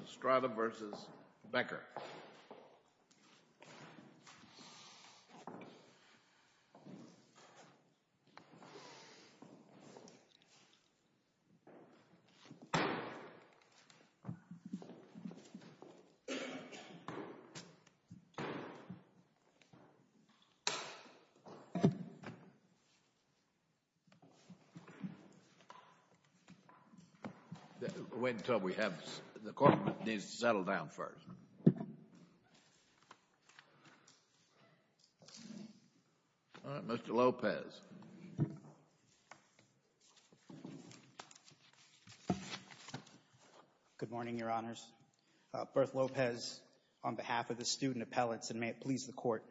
Estrada v. Becker Wait until we have the corporate needs to settle down first. All right, Mr. Lopez. Good morning, Your Honors. Berth Lopez on behalf of the student appellates, and may it please the Court.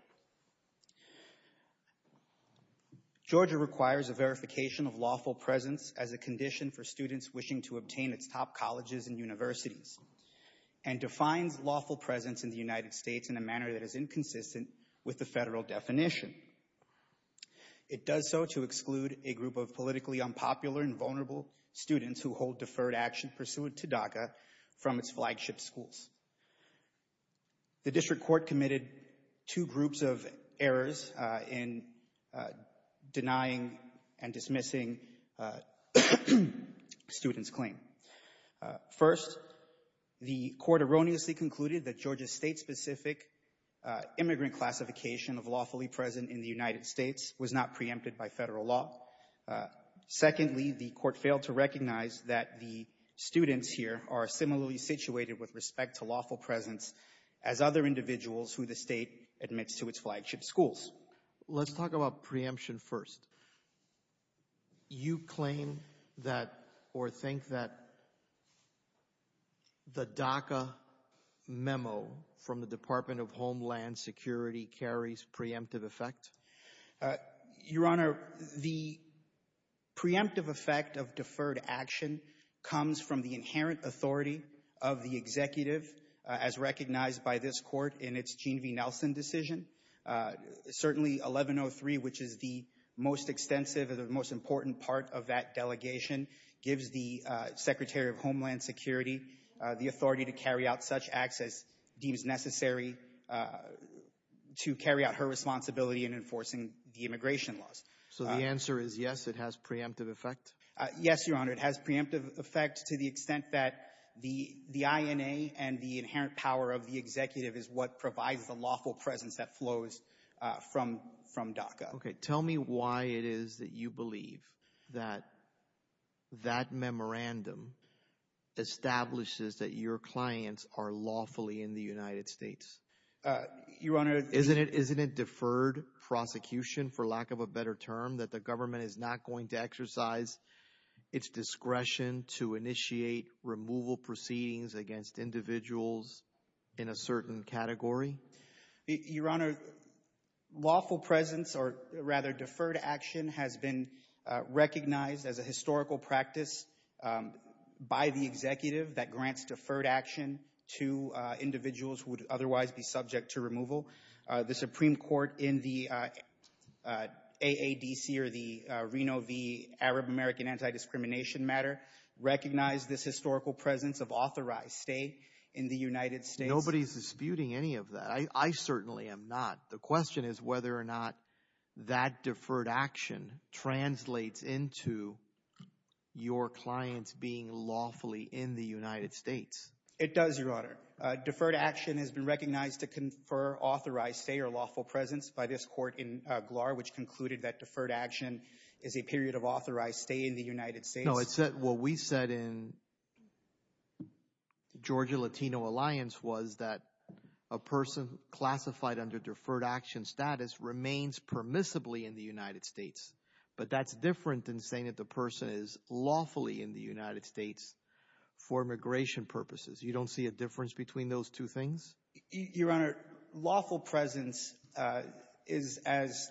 Georgia requires a verification of lawful presence as a condition for students wishing to obtain its top colleges and universities, and defines lawful presence in the United States in a manner that is inconsistent with the federal definition. It does so to exclude a group of politically unpopular and vulnerable students who hold deferred action pursuant to DACA from its flagship schools. The district court committed two groups of errors in denying and dismissing students' claim. First, the court erroneously concluded that Georgia's state-specific immigrant classification of lawfully present in the United States was not preempted by federal law. Secondly, the court failed to recognize that the students here are similarly situated with respect to lawful presence as other individuals who the state admits to its flagship schools. Let's talk about preemption first. You claim that or think that the DACA memo from the Department of Homeland Security carries preemptive effect? Your Honor, the preemptive effect of deferred action comes from the inherent authority of the executive, as recognized by this court in its Gene V. Nelson decision. Certainly, 1103, which is the most extensive and the most important part of that delegation, gives the Secretary of Homeland Security the authority to carry out such acts as deems necessary to carry out her responsibility in enforcing the immigration laws. So the answer is yes, it has preemptive effect? Yes, Your Honor, it has preemptive effect to the extent that the INA and the inherent power of the executive is what provides the lawful presence that flows from DACA. Tell me why it is that you believe that that memorandum establishes that your clients are lawfully in the United States. Isn't it deferred prosecution, for lack of a better term, that the government is not going to exercise its discretion to initiate removal proceedings against individuals in a certain category? Your Honor, lawful presence, or rather deferred action, has been recognized as a historical practice by the executive that grants deferred action to individuals who would otherwise be subject to removal. The Supreme Court in the AADC, or the Reno v. Arab-American Anti-Discrimination Matter, recognized this historical presence of authorized stay in the United States. Nobody is disputing any of that. I certainly am not. The question is whether or not that deferred action translates into your clients being lawfully in the United States. It does, Your Honor. Deferred action has been recognized to confer authorized stay or lawful presence by this court in Glar, which concluded that deferred action is a period of authorized stay in the United States. No, what we said in the Georgia Latino Alliance was that a person classified under deferred action status remains permissibly in the United States. But that's different than saying that the person is lawfully in the United States for immigration purposes. You don't see a difference between those two things? Your Honor, lawful presence is, as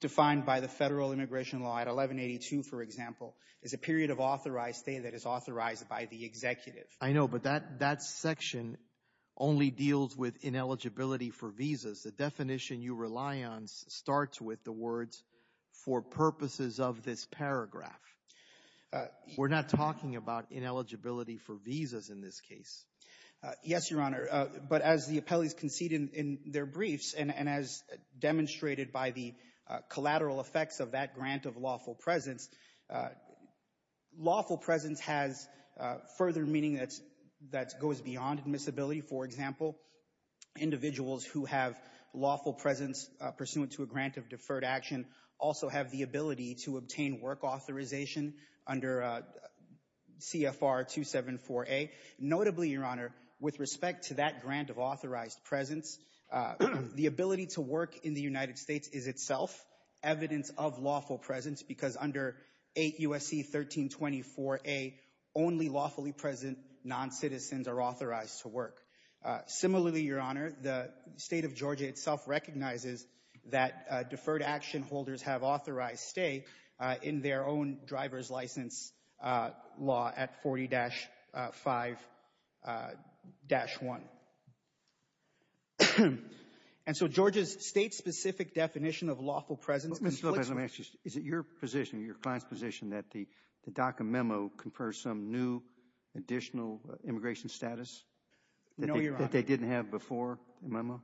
defined by the federal immigration law at 1182, for example, is a period of authorized stay that is authorized by the executive. I know, but that section only deals with ineligibility for visas. The definition you rely on starts with the words, for purposes of this paragraph. We're not talking about ineligibility for visas in this case. Yes, Your Honor, but as the appellees concede in their briefs and as demonstrated by the collateral effects of that grant of lawful presence, lawful presence has further meaning that goes beyond admissibility. For example, individuals who have lawful presence pursuant to a grant of deferred action also have the ability to obtain work authorization under CFR 274A. Notably, Your Honor, with respect to that grant of authorized presence, the ability to work in the United States is itself evidence of lawful presence because under 8 U.S.C. 1324A, only lawfully present non-citizens are authorized to work. Similarly, Your Honor, the state of Georgia itself recognizes that deferred action holders have authorized stay in their own driver's license law at 40-5-1. And so Georgia's state-specific definition of lawful presence conflicts with… Mr. Lopez, let me ask you, is it your position, your client's position that the DACA memo confers some new additional immigration status that they didn't have before the memo?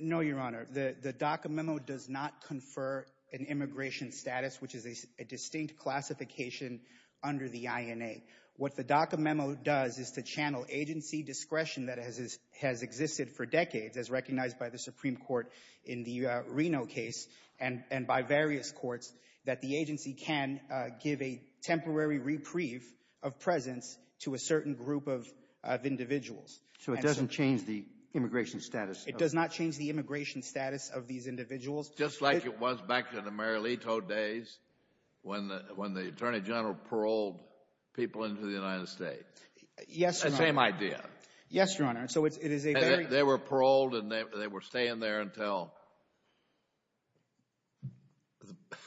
No, Your Honor. The DACA memo does not confer an immigration status, which is a distinct classification under the INA. What the DACA memo does is to channel agency discretion that has existed for decades, as recognized by the Supreme Court in the Reno case and by various courts, that the agency can give a temporary reprieve of presence to a certain group of individuals. So it doesn't change the immigration status? It does not change the immigration status of these individuals. Just like it was back in the Marietto days when the Attorney General paroled people into the United States? Yes, Your Honor. The same idea? Yes, Your Honor. And so it is a very… They were paroled and they were staying there until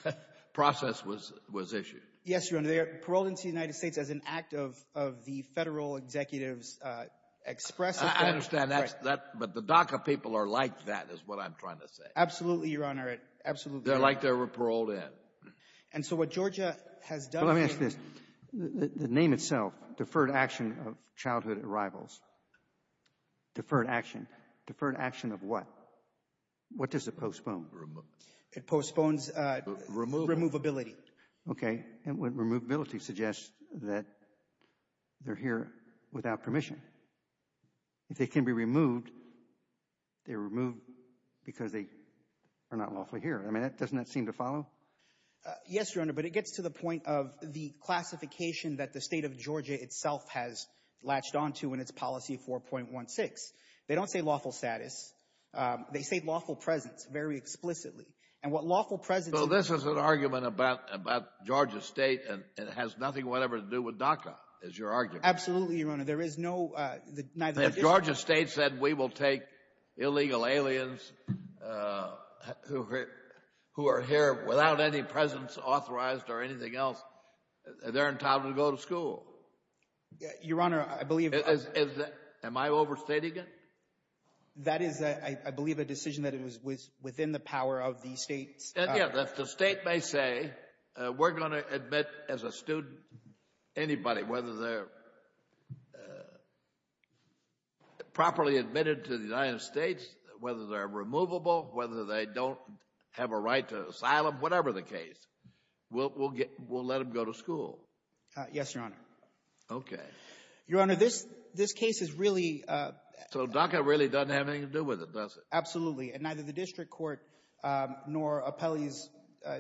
the process was issued? Yes, Your Honor. They were paroled into the United States as an act of the federal executive's express authority. I understand that, but the DACA people are like that, is what I'm trying to say. Absolutely, Your Honor. Absolutely. They're like they were paroled in? And so what Georgia has done… Let me ask this. The name itself, Deferred Action of Childhood Arrivals, Deferred Action, Deferred Action What does it postpone? It postpones… Removal. …removability. Okay. And what removability suggests that they're here without permission. If they can be removed, they're removed because they are not lawfully here. I mean, doesn't that seem to follow? Yes, Your Honor, but it gets to the point of the classification that the state of Georgia itself has latched onto in its policy 4.16. They don't say lawful status. They say lawful presence very explicitly. And what lawful presence… So this is an argument about Georgia State and it has nothing whatever to do with DACA, is your argument. Absolutely, Your Honor. There is no… If Georgia State said we will take illegal aliens who are here without any presence authorized or anything else, they're entitled to go to school. Your Honor, I believe… Am I overstating it? That is, I believe, a decision that was within the power of the state's… If the state may say, we're going to admit as a student anybody, whether they're properly admitted to the United States, whether they're removable, whether they don't have a right to asylum, whatever the case, we'll let them go to school. Yes, Your Honor. Okay. Your Honor, this case is really… So DACA really doesn't have anything to do with it, does it? Absolutely. And neither the district court nor appellees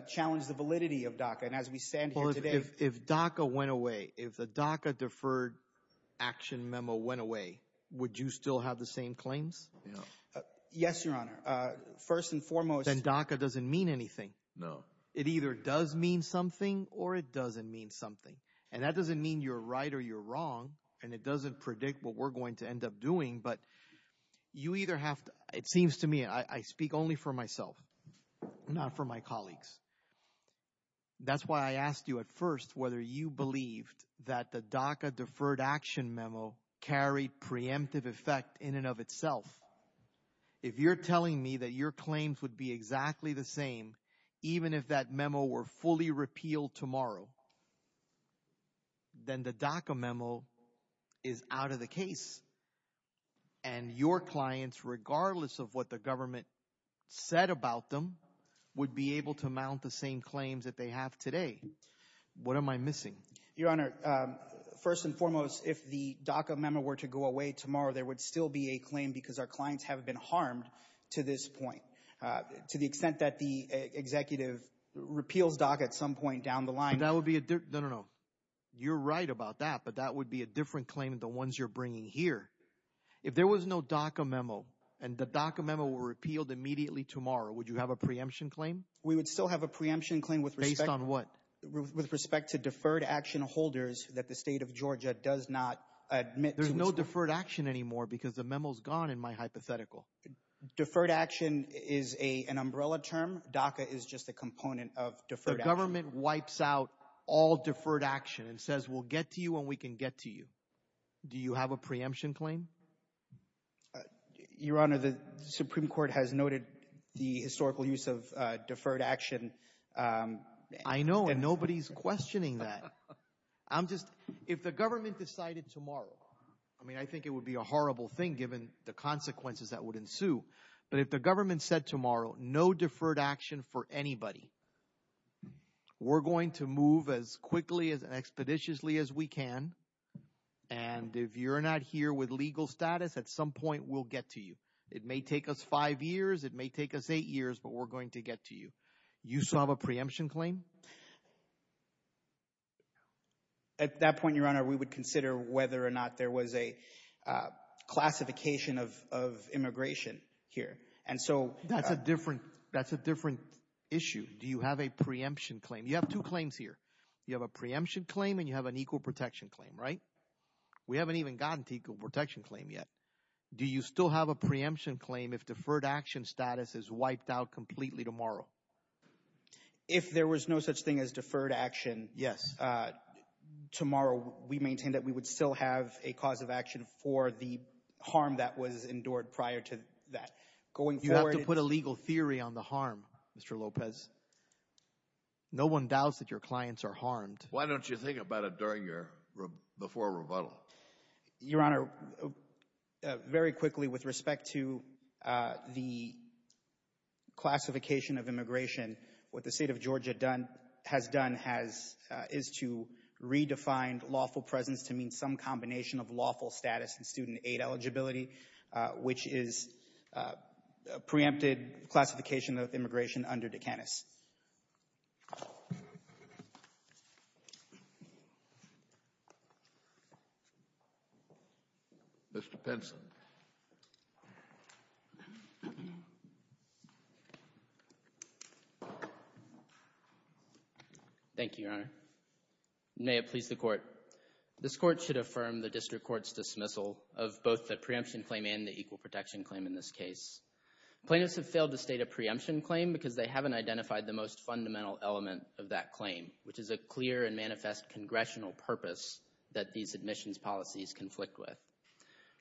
challenged the validity of DACA. And as we stand here today… If DACA went away, if the DACA deferred action memo went away, would you still have the same claims? Yes, Your Honor. First and foremost… Then DACA doesn't mean anything. No. It either does mean something or it doesn't mean something. And that doesn't mean you're right or you're wrong. And it doesn't predict what we're going to end up doing. But you either have to… It seems to me I speak only for myself, not for my colleagues. That's why I asked you at first whether you believed that the DACA deferred action memo carried preemptive effect in and of itself. If you're telling me that your claims would be exactly the same, even if that memo were fully repealed tomorrow, then the DACA memo is out of the case. And your clients, regardless of what the government said about them, would be able to mount the same claims that they have today. What am I missing? Your Honor, first and foremost, if the DACA memo were to go away tomorrow, there would still be a claim because our clients haven't been harmed to this point. To the extent that the executive repeals DACA at some point down the line. That would be a… No, no, no. You're right about that. But that would be a different claim than the ones you're bringing here. If there was no DACA memo and the DACA memo were repealed immediately tomorrow, would you have a preemption claim? We would still have a preemption claim with respect… Based on what? With respect to deferred action holders that the state of Georgia does not admit to. There's no deferred action anymore because the memo's gone in my hypothetical. Deferred action is an umbrella term. DACA is just a component of deferred action. The government wipes out all deferred action and says, we'll get to you when we can get to you. Do you have a preemption claim? Your Honor, the Supreme Court has noted the historical use of deferred action. I know, and nobody's questioning that. I'm just… If the government decided tomorrow, I mean, I think it would be a horrible thing given the consequences that would ensue, but if the government said tomorrow, no deferred action for anybody, we're going to move as quickly and expeditiously as we can. And if you're not here with legal status, at some point we'll get to you. It may take us five years, it may take us eight years, but we're going to get to you. You still have a preemption claim? At that point, Your Honor, we would consider whether or not there was a classification of immigration here. And so… That's a different… That's a different issue. Do you have a preemption claim? You have two claims here. You have a preemption claim and you have an equal protection claim, right? We haven't even gotten to equal protection claim yet. Do you still have a preemption claim if deferred action status is wiped out completely tomorrow? If there was no such thing as deferred action, yes, tomorrow we maintain that we would still have a cause of action for the harm that was endured prior to that. Going forward… You have to put a legal theory on the harm, Mr. Lopez. No one doubts that your clients are harmed. Why don't you think about it before a rebuttal? Your Honor, very quickly with respect to the classification of immigration, what the State of Georgia has done is to redefine lawful presence to mean some combination of lawful status and student aid eligibility, which is a preempted classification of immigration under Dukakis. Mr. Pinson. Thank you, Your Honor. May it please the Court. This Court should affirm the district court's dismissal of both the preemption claim and the equal protection claim in this case. Plaintiffs have failed to state a preemption claim because they haven't identified the most fundamental element of that claim, which is a clear and manifest congressional purpose that these admissions policies conflict with.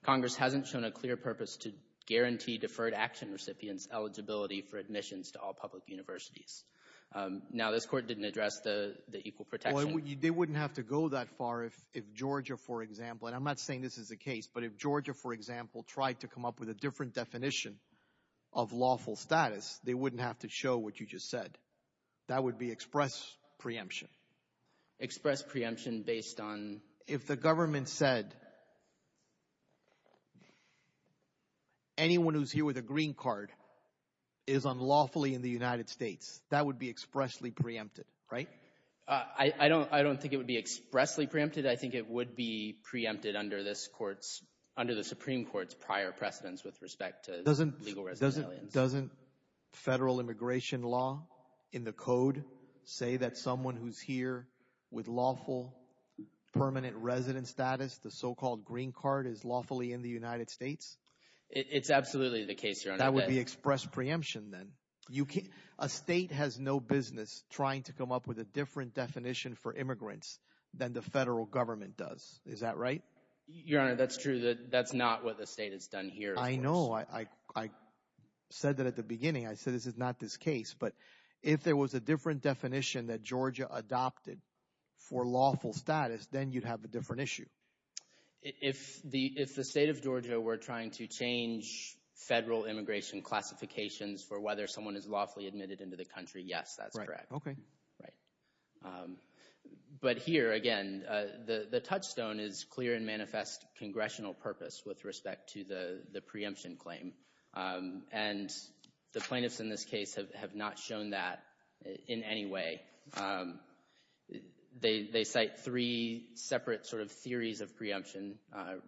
Congress hasn't shown a clear purpose to guarantee deferred action recipients eligibility for admissions to all public universities. Now this Court didn't address the equal protection. They wouldn't have to go that far if Georgia, for example, and I'm not saying this is the case, but if Georgia, for example, tried to come up with a different definition of lawful status, they wouldn't have to show what you just said. That would be express preemption. Express preemption based on? If the government said anyone who's here with a green card is unlawfully in the United States, that would be expressly preempted, right? I don't think it would be expressly preempted. I think it would be preempted under this Court's, under the Supreme Court's prior precedence with respect to legal residentiality. Doesn't federal immigration law in the code say that someone who's here with lawful permanent resident status, the so-called green card, is lawfully in the United States? It's absolutely the case, Your Honor. That would be express preemption then. A state has no business trying to come up with a different definition for immigrants than the federal government does. Is that right? Your Honor, that's true. That's not what the state has done here. I know. I said that at the beginning. I said this is not this case. But if there was a different definition that Georgia adopted for lawful status, then you'd have a different issue. If the state of Georgia were trying to change federal immigration classifications for whether someone is lawfully admitted into the country, yes, that's correct. Right. Okay. Right. But here, again, the touchstone is clear and manifest congressional purpose with respect to the preemption claim. And the plaintiffs in this case have not shown that in any way. They cite three separate sort of theories of preemption,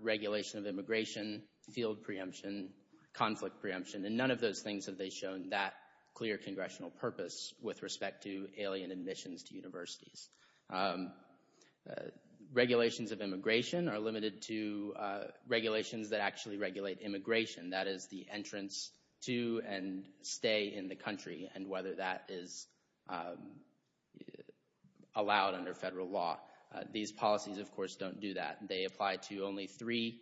regulation of immigration, field preemption, conflict preemption, and none of those things have they shown that clear congressional purpose with respect to alien admissions to universities. Regulations of immigration are limited to regulations that actually regulate immigration, that is, the entrance to and stay in the country and whether that is allowed under federal law. These policies, of course, don't do that. They apply to only three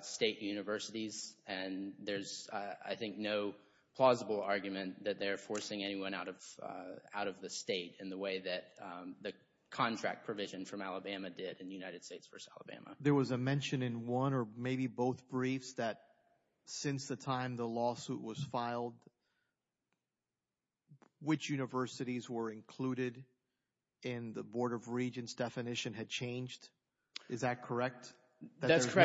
state universities. And there's, I think, no plausible argument that they're forcing anyone out of the state in the way that the contract provision from Alabama did in the United States versus Alabama. There was a mention in one or maybe both briefs that since the time the lawsuit was filed, which universities were included in the Board of Regents definition had changed. Is that correct? That's correct. That there's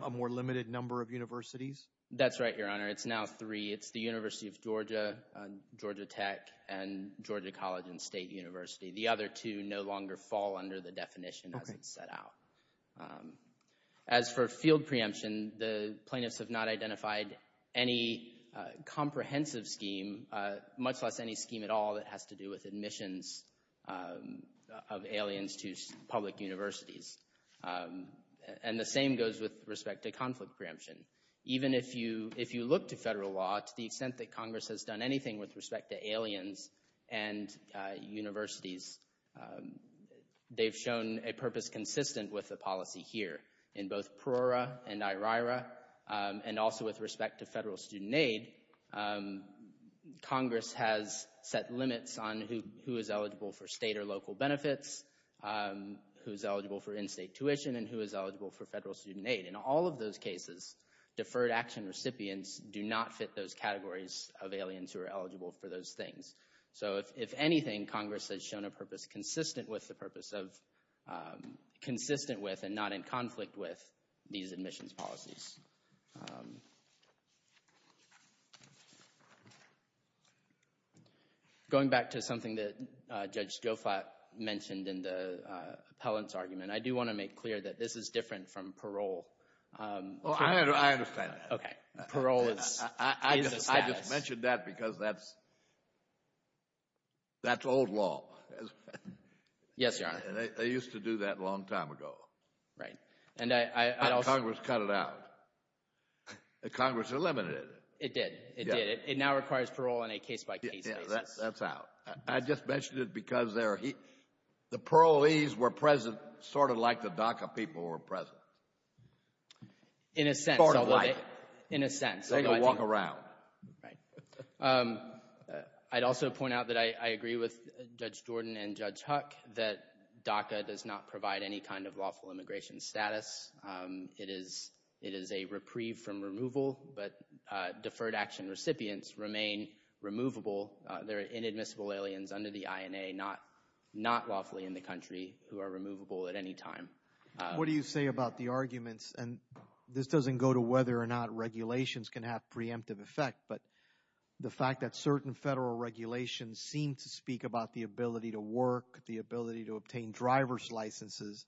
now a more limited number of universities? That's right, Your Honor. It's now three. It's the University of Georgia, Georgia Tech, and Georgia College and State University. The other two no longer fall under the definition as it's set out. As for field preemption, the plaintiffs have not identified any comprehensive scheme, much less any scheme at all that has to do with admissions of aliens to public universities. And the same goes with respect to conflict preemption. Even if you look to federal law, to the extent that Congress has done anything with respect to aliens and universities, they've shown a purpose consistent with the policy here. In both Prora and IRIRA, and also with respect to federal student aid, Congress has set limits on who is eligible for state or local benefits, who is eligible for in-state tuition, and who is eligible for federal student aid. In all of those cases, deferred action recipients do not fit those categories of aliens who are eligible for those things. So if anything, Congress has shown a purpose consistent with the purpose of, consistent with, and not in conflict with these admissions policies. Going back to something that Judge Gofat mentioned in the appellant's argument, I do want to make clear that this is different from parole. Well, I understand that. Okay. Parole is a status. I just mentioned that because that's old law. Yes, Your Honor. They used to do that a long time ago. Right. Congress cut it out. Congress eliminated it. It did. It did. It now requires parole on a case-by-case basis. Yes, that's out. I just mentioned it because the parolees were present sort of like the DACA people were present. In a sense. Sort of like. In a sense. They don't walk around. Right. I'd also point out that I agree with Judge Jordan and Judge Huck, that DACA does not provide any kind of lawful exemption. It is a reprieve from removal, but deferred action recipients remain removable. They're inadmissible aliens under the INA, not lawfully in the country, who are removable at any time. What do you say about the arguments, and this doesn't go to whether or not regulations can have preemptive effect, but the fact that certain federal regulations seem to speak about the ability to work, the ability to obtain driver's licenses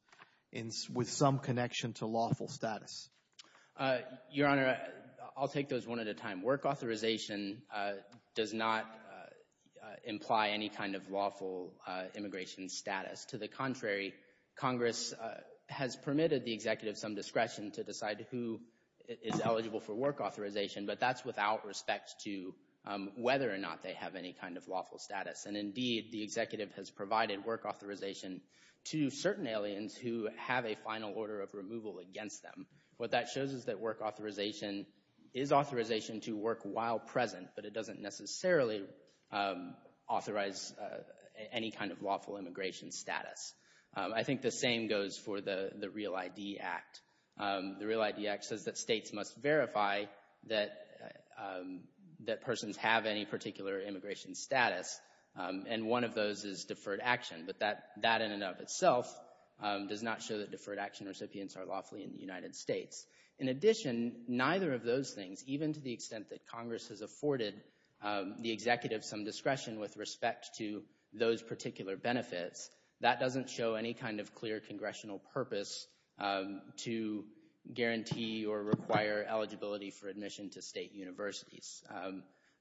with some connection to lawful status? Your Honor, I'll take those one at a time. Work authorization does not imply any kind of lawful immigration status. To the contrary, Congress has permitted the executive some discretion to decide who is eligible for work authorization, but that's without respect to whether or not they have any kind of lawful status. And indeed, the executive has provided work authorization to certain aliens who have a final order of removal against them. What that shows is that work authorization is authorization to work while present, but it doesn't necessarily authorize any kind of lawful immigration status. I think the same goes for the REAL ID Act. The REAL ID Act says that states must verify that persons have any particular immigration status, and one of those is deferred action, but that in and of itself does not show that deferred action recipients are lawfully in the United States. In addition, neither of those things, even to the extent that Congress has afforded the executive some discretion with respect to those particular benefits, that doesn't show any kind of clear congressional purpose to guarantee or require eligibility for admission to state universities.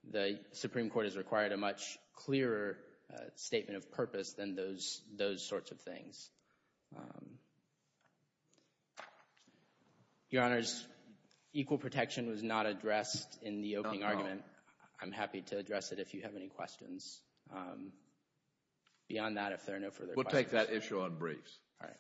The Supreme Court has required a much clearer statement of purpose than those sorts of things. Your Honors, equal protection was not addressed in the opening argument. I'm happy to address it if you have any questions. Beyond that, if there are no further questions. We'll take that issue on briefs. All right.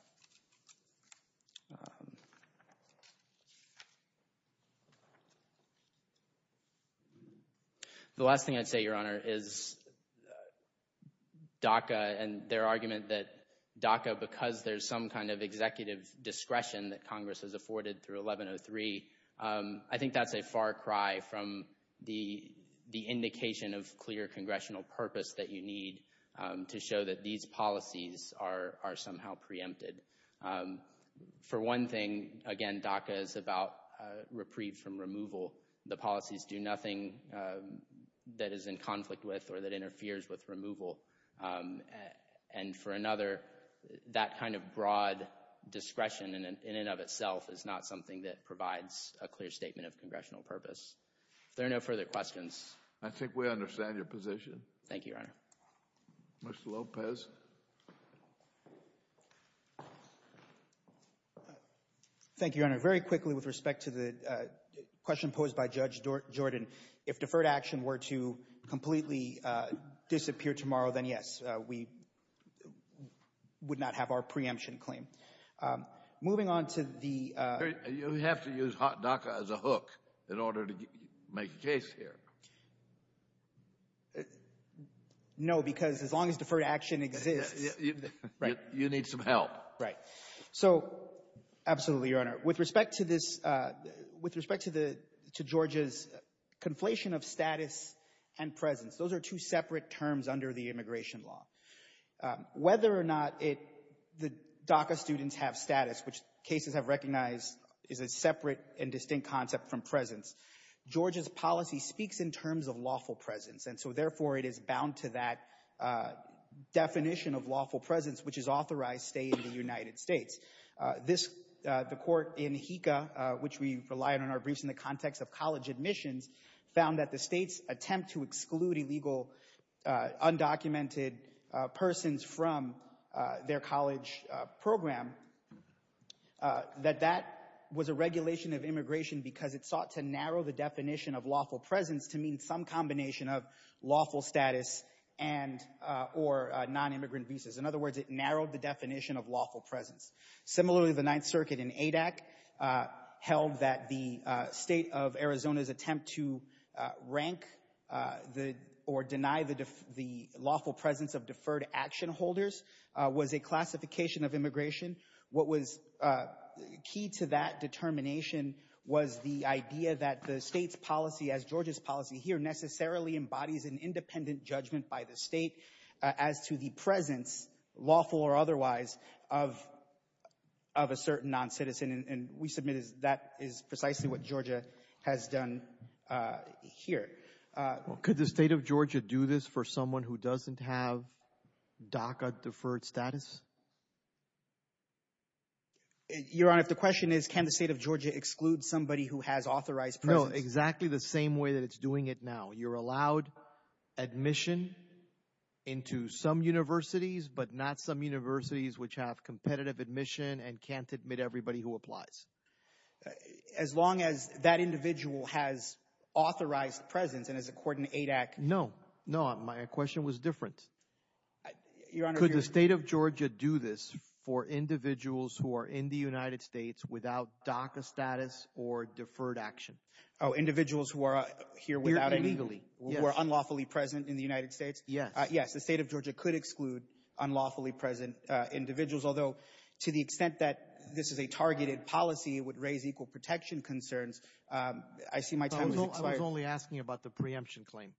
The last thing I'd say, Your Honor, is DACA and their argument that DACA, because there's some kind of executive discretion that Congress has afforded through 1103, I think that's a far cry from the indication of clear congressional purpose that you need to show that these policies are somehow preempted. For one thing, again, DACA is about reprieve from removal. The policies do nothing that is in conflict with or that interferes with removal. And for another, that kind of broad discretion in and of itself is not something that provides a clear statement of congressional purpose. If there are no further questions. I think we understand your position. Thank you, Your Honor. Mr. Lopez. Thank you, Your Honor. Very quickly with respect to the question posed by Judge Jordan, if deferred action were to completely disappear tomorrow, then yes, we would not have our preemption claim. Moving on to the— You have to use DACA as a hook in order to make case here. No, because as long as deferred action exists— You need some help. Right. So, absolutely, Your Honor. With respect to Georgia's conflation of status and presence, those are two separate terms under the immigration law. Whether or not the DACA students have status, which cases have recognized is a separate and distinct concept from presence, Georgia's policy speaks in terms of lawful presence. And so, therefore, it is bound to that definition of lawful presence, which is authorized stay in the United States. The court in HECA, which we relied on our briefs in the context of college admissions, found that the state's attempt to exclude illegal undocumented persons from their college program, that that was a regulation of immigration because it sought to narrow the definition of lawful presence to mean some combination of lawful status and or non-immigrant visas. In other words, it narrowed the definition of lawful presence. Similarly, the Ninth Circuit in ADAC held that the state of Arizona's attempt to rank or deny the lawful presence of deferred action holders was a classification of immigration. What was key to that determination was the idea that the state's policy, as Georgia's policy here, necessarily embodies an independent judgment by the state as to the presence, lawful or otherwise, of a certain non-citizen. And we submit that is precisely what Georgia has done here. Could the state of Georgia do this for someone who doesn't have DACA deferred status? Your Honor, if the question is, can the state of Georgia exclude somebody who has authorized presence? No, exactly the same way that it's doing it now. You're allowed admission into some universities, but not some universities which have competitive admission and can't admit everybody who applies. As long as that individual has authorized presence and is a court in ADAC. No, no. My question was different. Your Honor. Could the state of Georgia do this for individuals who are in the United States without DACA status or deferred action? Oh, individuals who are here without illegally, who are unlawfully present in the United States? Yes. Yes, the state of Georgia could exclude unlawfully present individuals, although to the extent that this is a targeted policy, it would raise equal protection concerns. I see my time has expired. I was only asking about the preemption claim.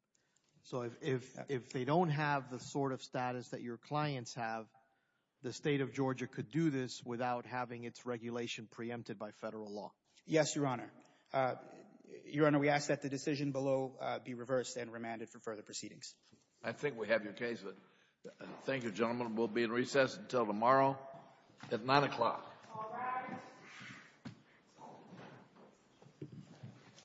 So if they don't have the sort of status that your clients have, the state of Georgia could do this without having its regulation preempted by federal law. Yes, Your Honor. Your Honor, we ask that the decision below be reversed and remanded for further proceedings. I think we have your case. Thank you, gentlemen. We'll be in recess until tomorrow at 9 o'clock.